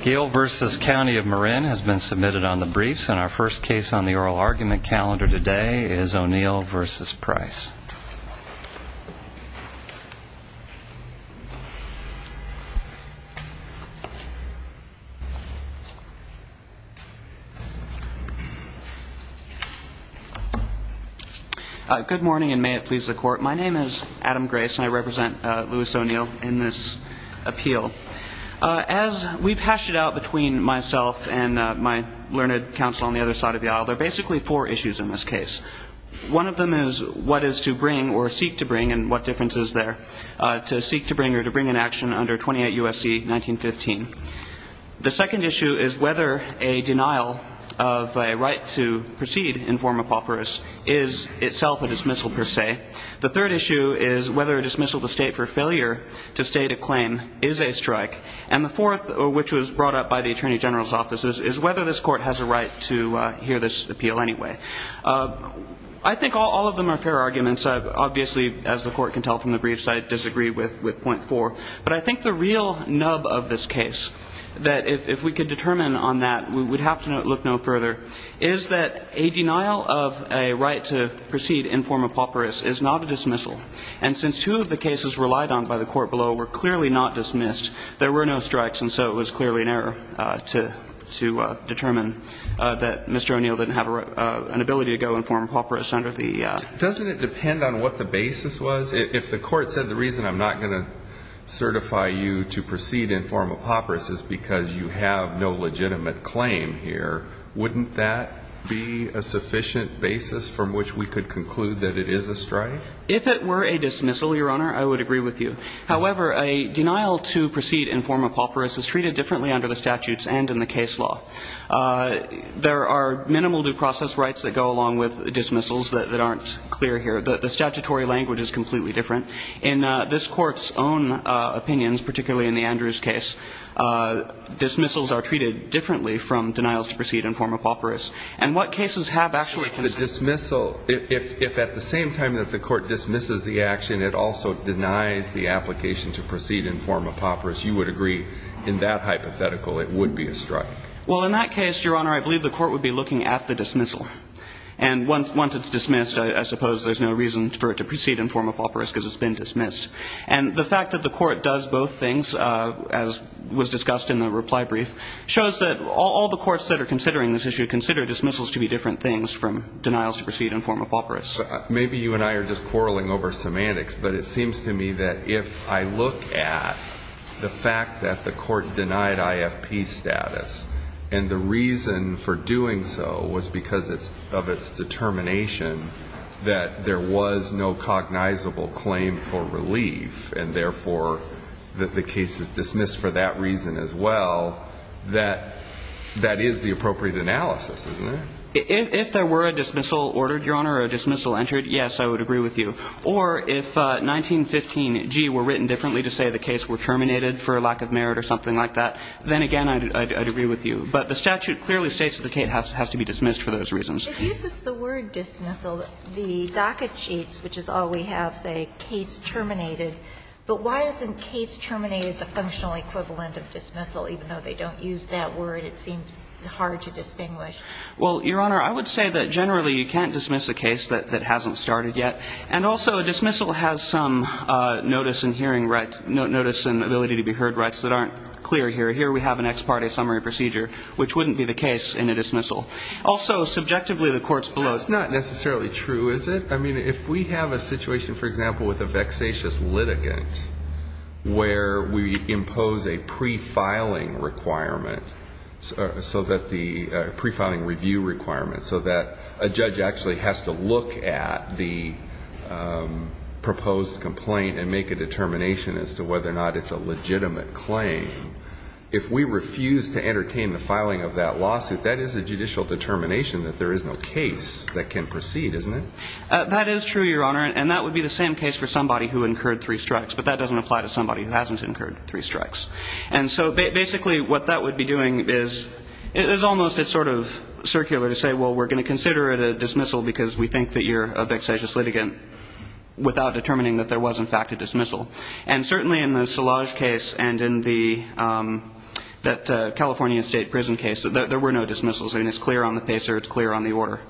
Gail v. County of Marin has been submitted on the briefs and our first case on the oral argument calendar today is O'Neal v. Price. Good morning and may it please the court. My name is Adam Grace and I represent Louis O'Neal in this appeal. As we've hashed it out between myself and my learned counsel on the other side of the aisle, there are basically four issues in this case. One of them is what is to bring or seek to bring and what difference is there to seek to bring or to bring an action under 28 U.S.C. 1915. The second issue is whether a denial of a right to proceed in form of pauperous is itself a dismissal per se. The third issue is whether a dismissal to state for failure to state a claim is a strike. And the fourth, which was brought up by the Attorney General's offices, is whether this court has a right to hear this appeal anyway. I think all of them are fair arguments. Obviously, as the court can tell from the briefs, I disagree with point four. But I think the real nub of this case that if we could determine on that, we would have to look no further, is that a denial of a right to proceed in form of pauperous is not a dismissal. And since two of the cases relied on by the court below were clearly not dismissed, there were no strikes, and so it was clearly an error to determine that Mr. O'Neal didn't have an ability to go in form of pauperous under the law. Does it depend on what the basis was? If the court said the reason I'm not going to certify you to proceed in form of pauperous is because you have no legitimate claim here, wouldn't that be a sufficient basis from which we could conclude that it is a strike? If it were a dismissal, Your Honor, I would agree with you. However, a denial to proceed in form of pauperous is treated differently under the statutes and in the case law. There are minimal due process rights that go along with dismissals that aren't clear here. The statutory language is completely different. In this Court's own opinions, particularly in the Andrews case, dismissals are treated differently from denials to proceed in form of pauperous. And what cases have actually been struck? If the dismissal, if at the same time that the court dismisses the action, it also denies the application to proceed in form of pauperous, you would agree in that hypothetical it would be a strike. Well, in that case, Your Honor, I believe the court would be looking at the dismissal. And once it's dismissed, I suppose there's no reason for it to proceed in form of pauperous because it's been dismissed. And the fact that the court does both things, as was discussed in the reply brief, shows that all the courts that are considering this issue consider dismissals to be different things from denials to proceed in form of pauperous. Maybe you and I are just quarreling over semantics. But it seems to me that if I look at the fact that the court denied IFP status, and the reason for doing so was because of its determination that there was no cognizable claim for relief, and therefore, that the case is dismissed for that reason as well, that that is the appropriate analysis, isn't it? If there were a dismissal ordered, Your Honor, or a dismissal entered, yes, I would agree with you. Or if 1915g were written differently to say the case were terminated for lack of merit or something like that, then again, I'd agree with you. But the statute clearly states that the case has to be dismissed for those reasons. It uses the word dismissal, the docket sheets, which is all we have, say, case terminated. But why isn't case terminated the functional equivalent of dismissal? Even though they don't use that word, it seems hard to distinguish. Well, Your Honor, I would say that generally you can't dismiss a case that hasn't started yet. And also, a dismissal has some notice and hearing right, notice and ability to be heard rights that aren't clear here. Here we have an ex parte summary procedure, which wouldn't be the case in a dismissal. Also, subjectively, the court's below. That's not necessarily true, is it? I mean, if we have a situation, for example, with a vexatious litigant, where we impose a pre-filing requirement, so that the pre-filing review requirement, so that a judge actually has to look at the proposed complaint and make a determination as to whether or not it's a legitimate claim, if we refuse to entertain the filing of that lawsuit, that is a judicial determination that there is no case that can proceed, isn't it? That is true, Your Honor, and that would be the same case for somebody who incurred three strikes. But that doesn't apply to somebody who hasn't incurred three strikes. And so basically what that would be doing is, it is almost sort of circular to say, well, we're going to consider it a dismissal because we think that you're a vexatious litigant without determining that there was, in fact, a dismissal. And certainly in the Szilagyi case and in the California state prison case, there were no dismissals. I mean, it's clear on the pacer. It's clear on the order.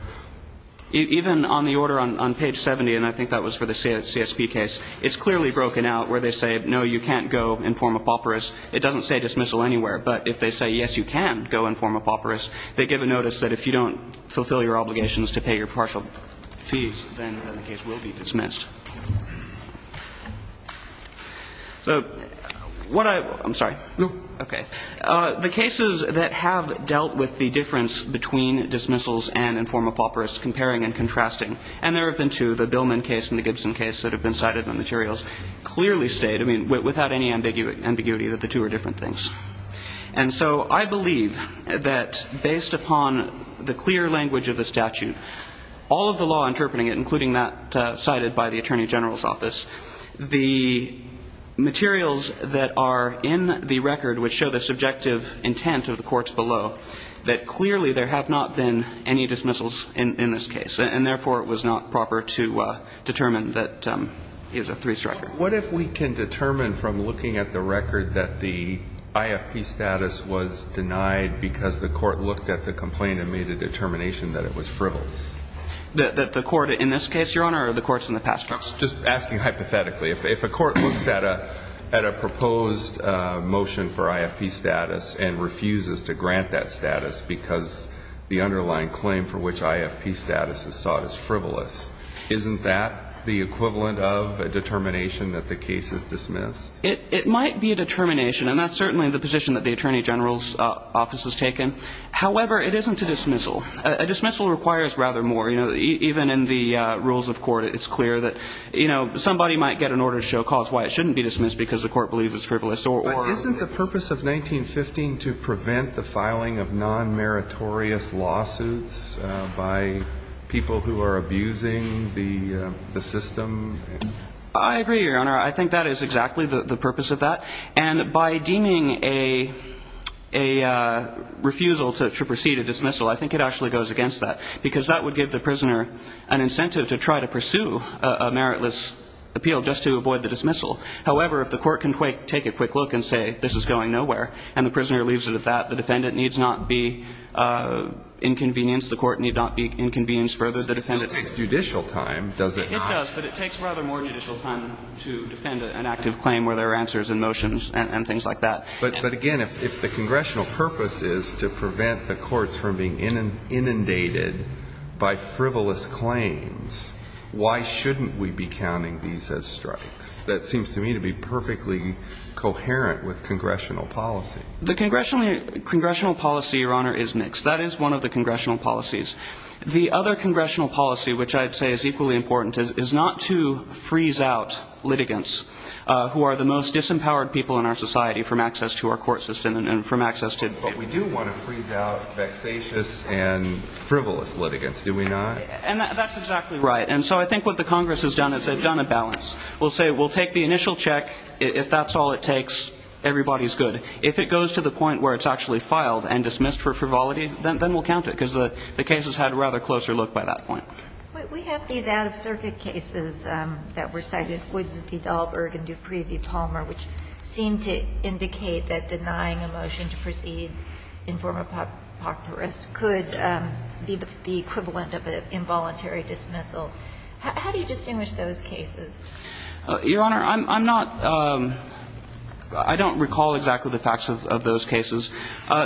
Even on the order on page 70, and I think that was for the CSP case, it's clearly broken out where they say, no, you can't go and form a papyrus. It doesn't say dismissal anywhere. But if they say, yes, you can go and form a papyrus, they give a notice that if you don't fulfill your obligations to pay your partial fees, then the case will be dismissed. So what I – I'm sorry. Okay. The cases that have dealt with the difference between dismissals and in form of papyrus comparing and contrasting, and there have been two, the Billman case and the Gibson case that have been cited in the materials, clearly state, I mean, without any ambiguity, that the two are different things. And so I believe that based upon the clear language of the statute, all of the law interpreting it, including that cited by the Attorney General's office, the materials that are in the record which show the subjective intent of the courts below, that clearly there have not been any dismissals in this case. And therefore, it was not proper to determine that it was a three-striker. What if we can determine from looking at the record that the IFP status was denied because the court looked at the complaint and made a determination that it was frivolous? That the court in this case, Your Honor, or the courts in the past case? Just asking hypothetically. If a court looks at a proposed motion for IFP status and refuses to grant that status because the underlying claim for which IFP status is sought is frivolous, isn't that the equivalent of a determination that the case is dismissed? It might be a determination, and that's certainly the position that the Attorney General's office has taken. However, it isn't a dismissal. A dismissal requires rather more. Even in the rules of court, it's clear that somebody might get an order to show cause why it shouldn't be dismissed because the court believes it's frivolous. But isn't the purpose of 1915 to prevent the filing of non-meritorious lawsuits by people who are abusing the system? I agree, Your Honor. I think that is exactly the purpose of that. And by deeming a refusal to proceed a dismissal, I think it actually goes against that because that would give the prisoner an incentive to try to pursue a meritless appeal just to avoid the dismissal. However, if the court can take a quick look and say, this is going nowhere, and the prisoner leaves it at that, the defendant needs not be inconvenienced. The court need not be inconvenienced further. It still takes judicial time, does it not? It does, but it takes rather more judicial time to defend an active claim where there are answers and motions and things like that. But again, if the congressional purpose is to prevent the courts from being inundated by frivolous claims, why shouldn't we be counting these as strikes? That seems to me to be perfectly coherent with congressional policy. The congressional policy, Your Honor, is mixed. That is one of the congressional policies. The other congressional policy, which I'd say is equally important, is not to freeze out litigants who are the most disempowered people in our society from access to our court system and from access to the community. But we do want to freeze out vexatious and frivolous litigants, do we not? And that's exactly right. And so I think what the Congress has done is they've done a balance. We'll say, we'll take the initial check. If that's all it takes, everybody's good. If it goes to the point where it's actually filed and dismissed for frivolity, then we'll count it because the case has had a rather closer look by that point. We have these out-of-circuit cases that were cited, Woods v. Dahlberg and Dupree v. Palmer, which seem to indicate that denying a motion to proceed in form of apocryphus could be the equivalent of an involuntary dismissal. How do you distinguish those cases? Your Honor, I'm not – I don't recall exactly the facts of those cases.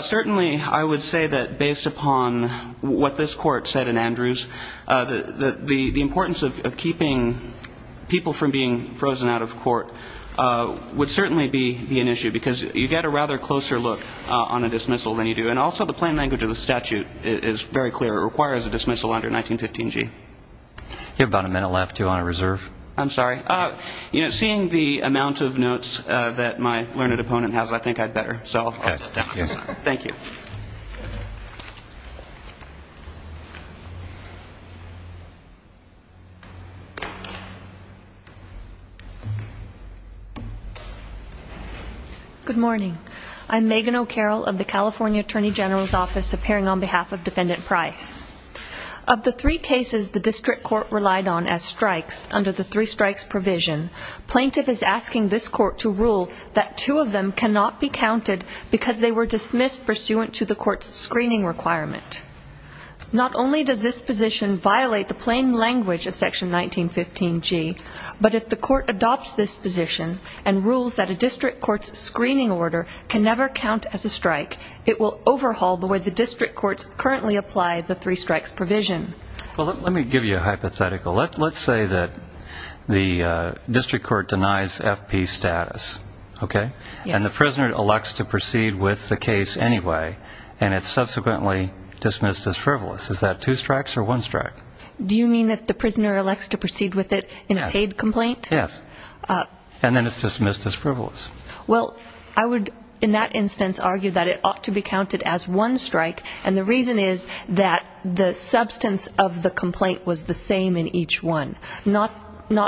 Certainly, I would say that based upon what this Court said in Andrews, the importance of keeping people from being frozen out of court would certainly be an issue because you get a rather closer look on a dismissal than you do. And also, the plain language of the statute is very clear. It requires a dismissal under 1915G. You have about a minute left, Your Honor. Reserve. I'm sorry. Seeing the amount of notes that my learned opponent has, I think I'd better. So, I'll step down. Thank you. Good morning. I'm Megan O'Carroll of the California Attorney General's Office, appearing on behalf of Defendant Price. Of the three cases the District Court relied on as strikes under the three-strikes provision, plaintiff is asking this Court to rule that two of them cannot be counted because they were dismissed pursuant to the Court's screening requirement. Not only does this position violate the plain language of Section 1915G, but if the Court adopts this position and rules that a District Court's screening order can never count as a strike, it will overhaul the way the District Courts currently apply the three-strikes provision. Well, let me give you a hypothetical. Let's say that the District Court denies FP status, okay? And the prisoner elects to proceed with the case anyway, and it's subsequently dismissed as frivolous. Is that two strikes or one strike? Do you mean that the prisoner elects to proceed with it in a paid complaint? Yes. And then it's dismissed as frivolous. Well, I would, in that instance, argue that it ought to be counted as one strike, and the reason is that the substance of the complaint was the same in each one, not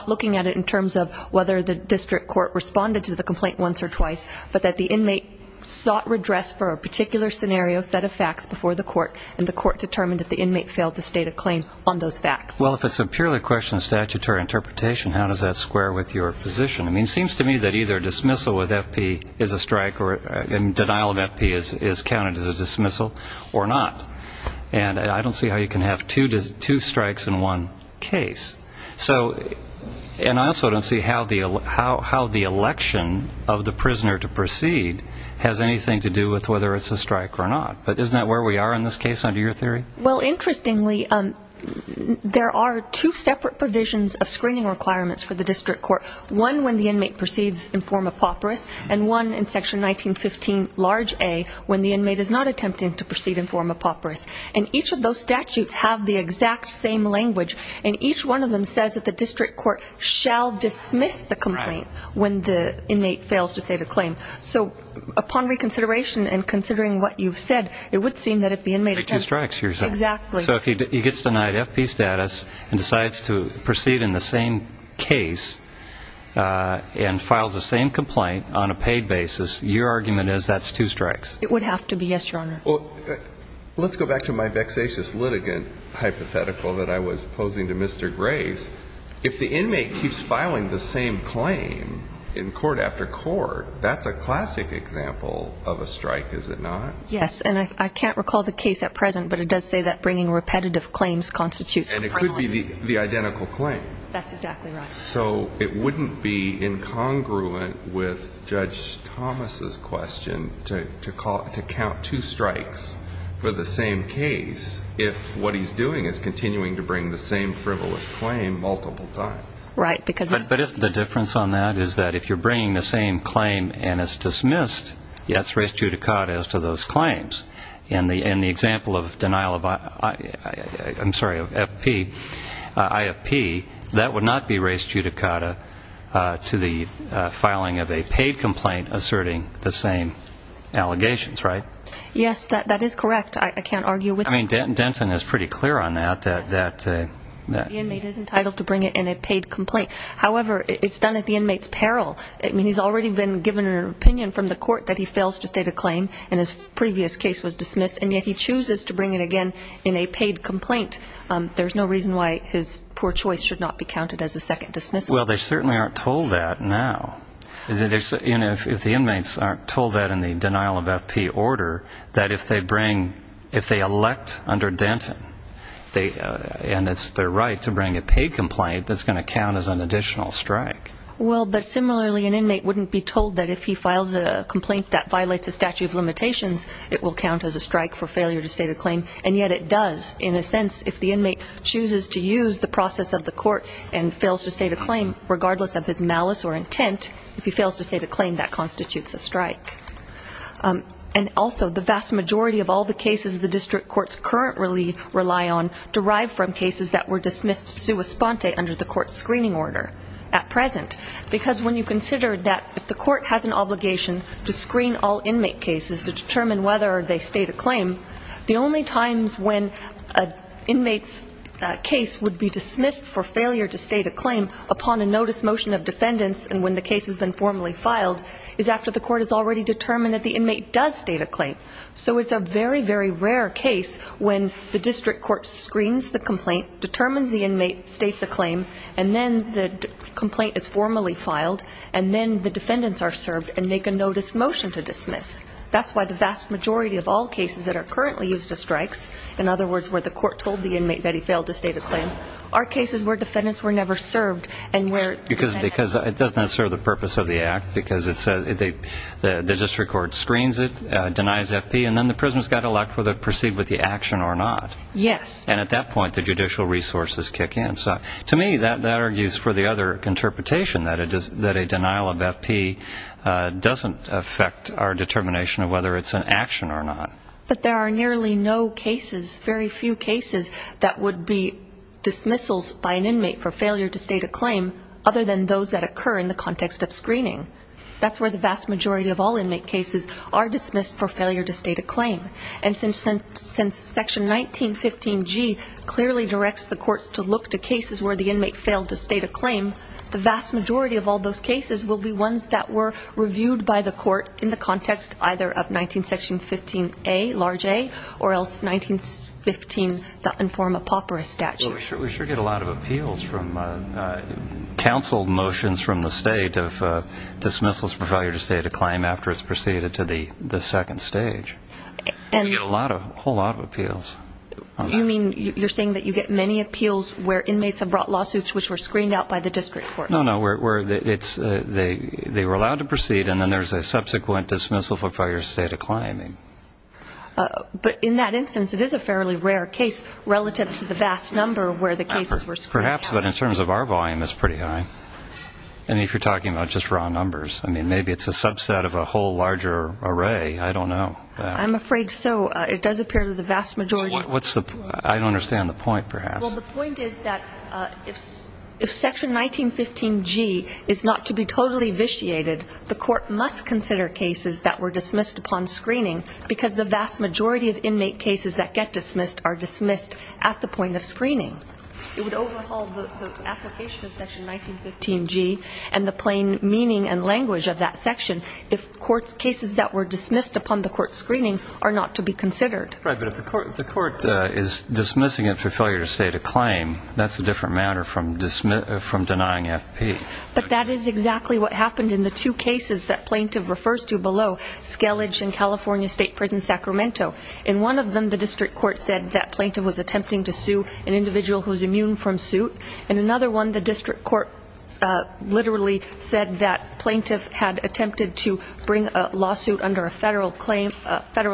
looking at it in terms of whether the District Court responded to the complaint once or twice, but that the inmate sought redress for a particular scenario, set of facts before the Court, and the Court determined that the inmate failed to state a claim on those facts. Well, if it's a purely question of statutory interpretation, how does that square with your position? I mean, it seems to me that either dismissal with FP is a strike or denial of FP is counted as a dismissal or not. And I don't see how you can have two strikes in one case. So, and I also don't see how the election of the prisoner to proceed has anything to do with whether it's a strike or not. But isn't that where we are in this case under your theory? Well, interestingly, there are two separate provisions of screening requirements for the District Court, one when the inmate proceeds in form of pauperous, and one in section 1915 large A, when the inmate is not attempting to proceed in form of pauperous. And each of those statutes have the exact same language. And each one of them says that the District Court shall dismiss the complaint when the inmate fails to say the claim. So upon reconsideration and considering what you've said, it would seem that if the inmate attempts... Make two strikes, you're saying. Exactly. So if he gets denied FP status and decides to proceed in the same case and files the same complaint on a paid basis, your argument is that's two strikes. It would have to be, yes, Your Honor. Well, let's go back to my vexatious litigant hypothetical that I was posing to Mr. Grace. If the inmate keeps filing the same claim in court after court, that's a classic example of a strike, is it not? Yes. And I can't recall the case at present, but it does say that bringing repetitive claims constitutes... And it could be the identical claim. That's exactly right. So it wouldn't be incongruent with Judge Thomas's question to count two strikes for the same case if what he's doing is continuing to bring the same frivolous claim multiple times. Right, because... But isn't the difference on that is that if you're bringing the same claim and it's dismissed, that's res judicata as to those claims. In the example of denial of... I'm sorry, of FP, IFP, that would not be res judicata to the filing of a paid complaint asserting the same allegations, right? Yes, that is correct. I can't argue with that. I mean, Denton is pretty clear on that, that... The inmate is entitled to bring it in a paid complaint. However, it's done at the inmate's peril. I mean, he's already been given an opinion from the court that he fails to state a and yet he chooses to bring it again in a paid complaint. There's no reason why his poor choice should not be counted as a second dismissal. Well, they certainly aren't told that now. If the inmates aren't told that in the denial of FP order, that if they bring... If they elect under Denton, and it's their right to bring a paid complaint, that's going to count as an additional strike. Well, but similarly, an inmate wouldn't be told that if he files a complaint that will count as a strike for failure to state a claim. And yet it does, in a sense, if the inmate chooses to use the process of the court and fails to state a claim, regardless of his malice or intent, if he fails to state a claim, that constitutes a strike. And also, the vast majority of all the cases the district courts currently rely on derive from cases that were dismissed sua sponte under the court screening order at present. Because when you consider that if the court has an obligation to screen all inmate cases to determine whether they state a claim, the only times when an inmate's case would be dismissed for failure to state a claim upon a notice motion of defendants and when the case has been formally filed is after the court has already determined that the inmate does state a claim. So it's a very, very rare case when the district court screens the complaint, determines the inmate, states a claim, and then the complaint is formally filed, and then the defendants are served and make a notice motion to dismiss. That's why the vast majority of all cases that are currently used as strikes, in other words, where the court told the inmate that he failed to state a claim, are cases where defendants were never served. And where... Because it doesn't serve the purpose of the act, because the district court screens it, denies FP, and then the prisoners got to elect whether to proceed with the action or not. Yes. And at that point, the judicial resources kick in. So to me, that argues for the other interpretation, that a denial of FP doesn't affect our determination of whether it's an action or not. But there are nearly no cases, very few cases, that would be dismissals by an inmate for failure to state a claim other than those that occur in the context of screening. That's where the vast majority of all inmate cases are dismissed for failure to state a claim. And since Section 1915G clearly directs the courts to look to cases where the inmate failed to state a claim, the vast majority of all those cases will be ones that were reviewed by the court in the context either of 19 Section 15A, large A, or else 1915, that inform apoporus statute. We sure get a lot of appeals from... counseled motions from the state of dismissals for failure to state a claim after it's proceeded to the second stage. And... We get a lot of, a whole lot of appeals. You mean, you're saying that you get many appeals where inmates have brought lawsuits which were screened out by the district court? No, no, where it's, they were allowed to proceed and then there's a subsequent dismissal for failure to state a claim. But in that instance, it is a fairly rare case relative to the vast number where the cases were screened out. Perhaps, but in terms of our volume, it's pretty high. I mean, if you're talking about just raw numbers, I mean, maybe it's a subset of a whole larger array. I don't know. I'm afraid so. It does appear to the vast majority... What's the... I don't understand the point, perhaps. Well, the point is that if section 1915G is not to be totally vitiated, the court must consider cases that were dismissed upon screening because the vast majority of inmate cases that get dismissed are dismissed at the point of screening. It would overhaul the application of section 1915G and the plain meaning and language of that section if court's cases that were dismissed upon the court screening are not to be considered. Right, but if the court is dismissing it for failure to state a claim, that's a different matter from denying FP. But that is exactly what happened in the two cases that plaintiff refers to below, Skellige and California State Prison, Sacramento. In one of them, the district court said that plaintiff was attempting to sue an individual who's immune from suit. In another one, the district court literally said that plaintiff had attempted to bring a lawsuit under a federal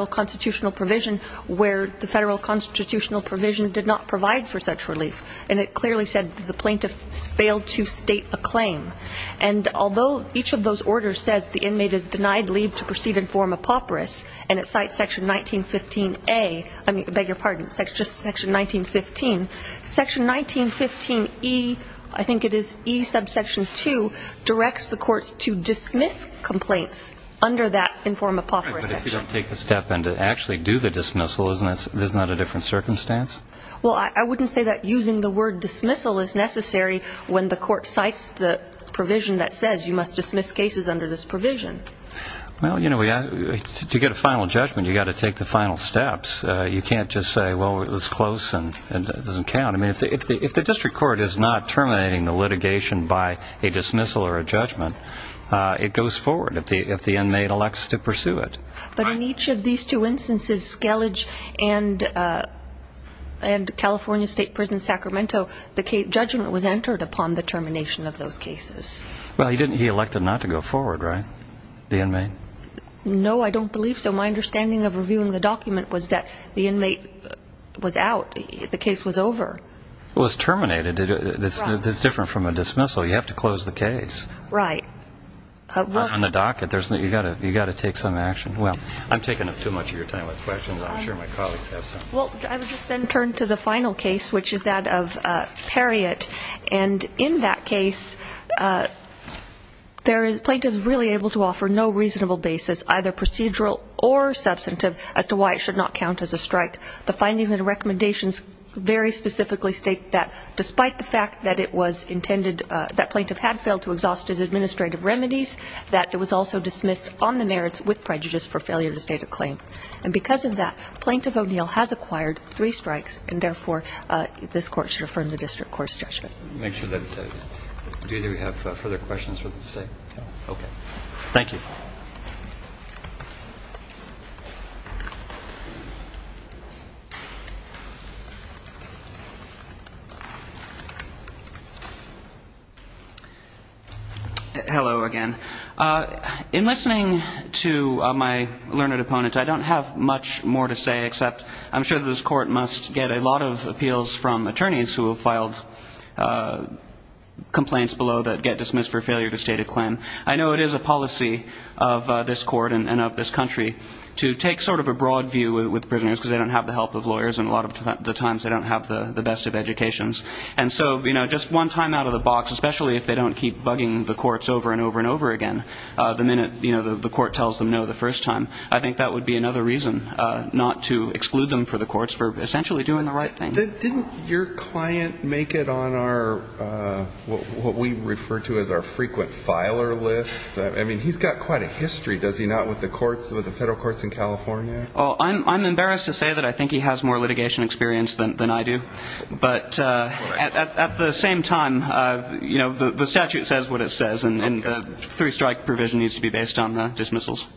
constitutional provision where the federal constitutional provision did not provide for such relief. And it clearly said that the plaintiff failed to state a claim. And although each of those orders says the inmate is denied leave to proceed and form a pauperous and it cites section 1915A, I mean, I beg your pardon, just section 1915, section 1915E, I think it is E subsection 2, directs the courts to dismiss complaints under that inform a pauperous section. Right, but if you don't take the step and to actually do the dismissal, isn't that a different circumstance? Well, I wouldn't say that using the word dismissal is necessary when the court cites the provision that says you must dismiss cases under this provision. Well, you know, to get a final judgment, you got to take the final steps. You can't just say, well, it was close and it doesn't count. I mean, if the district court is not terminating the litigation by a dismissal or a judgment, it goes forward if the inmate elects to pursue it. But in each of these two instances, Skellige and California State Prison, Sacramento, the judgment was entered upon the termination of those cases. Well, he elected not to go forward, right? The inmate? No, I don't believe so. My understanding of reviewing the document was that the inmate was out. The case was over. It was terminated. It's different from a dismissal. You have to close the case. Right. On the docket, you got to take some action. Well, I'm taking up too much of your time with questions. I'm sure my colleagues have some. Well, I would just then turn to the final case, which is that of Perriott. And in that case, plaintiff is really able to offer no reasonable basis, either procedural or substantive, as to why it should not count as a strike. The findings and recommendations very specifically state that despite the fact that it was intended, that plaintiff had failed to exhaust his administrative remedies, that it was also dismissed on the merits with prejudice for failure to state a claim. And because of that, plaintiff O'Neill has acquired three strikes. And therefore, this court should affirm the district court's judgment. Make sure that, do either of you have further questions for the state? No. Okay. Thank you. Hello again. In listening to my learned opponent, I don't have much more to say, except I'm sure that this court must get a lot of appeals from attorneys who have filed complaints below that get dismissed for failure to state a claim. I know it is a policy of this court and of this country to take sort of a broad view with prisoners because they don't have the help of lawyers. And a lot of the times, they don't have the best of educations. And so, you know, just one time out of the box, especially if they don't keep bugging the courts over and over and over again, the minute the court tells them no the first time, I think that would be another reason not to exclude them for the courts for essentially doing the right thing. Didn't your client make it on our, what we refer to as our frequent filer list? I mean, he's got quite a history, does he not, with the courts, with the federal courts in California? Well, I'm embarrassed to say that I think he has more litigation experience than I do. But at the same time, you know, the statute says what it says, and the three-strike provision needs to be based on the dismissals.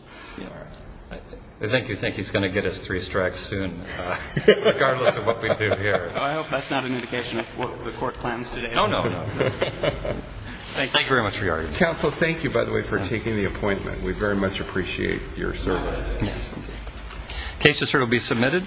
I think you think he's going to get his three strikes soon, regardless of what we do here. I hope that's not an indication of what the court plans today. No, no, no. Thank you very much for your argument. Counsel, thank you, by the way, for taking the appointment. We very much appreciate your service. Case to serve will be submitted.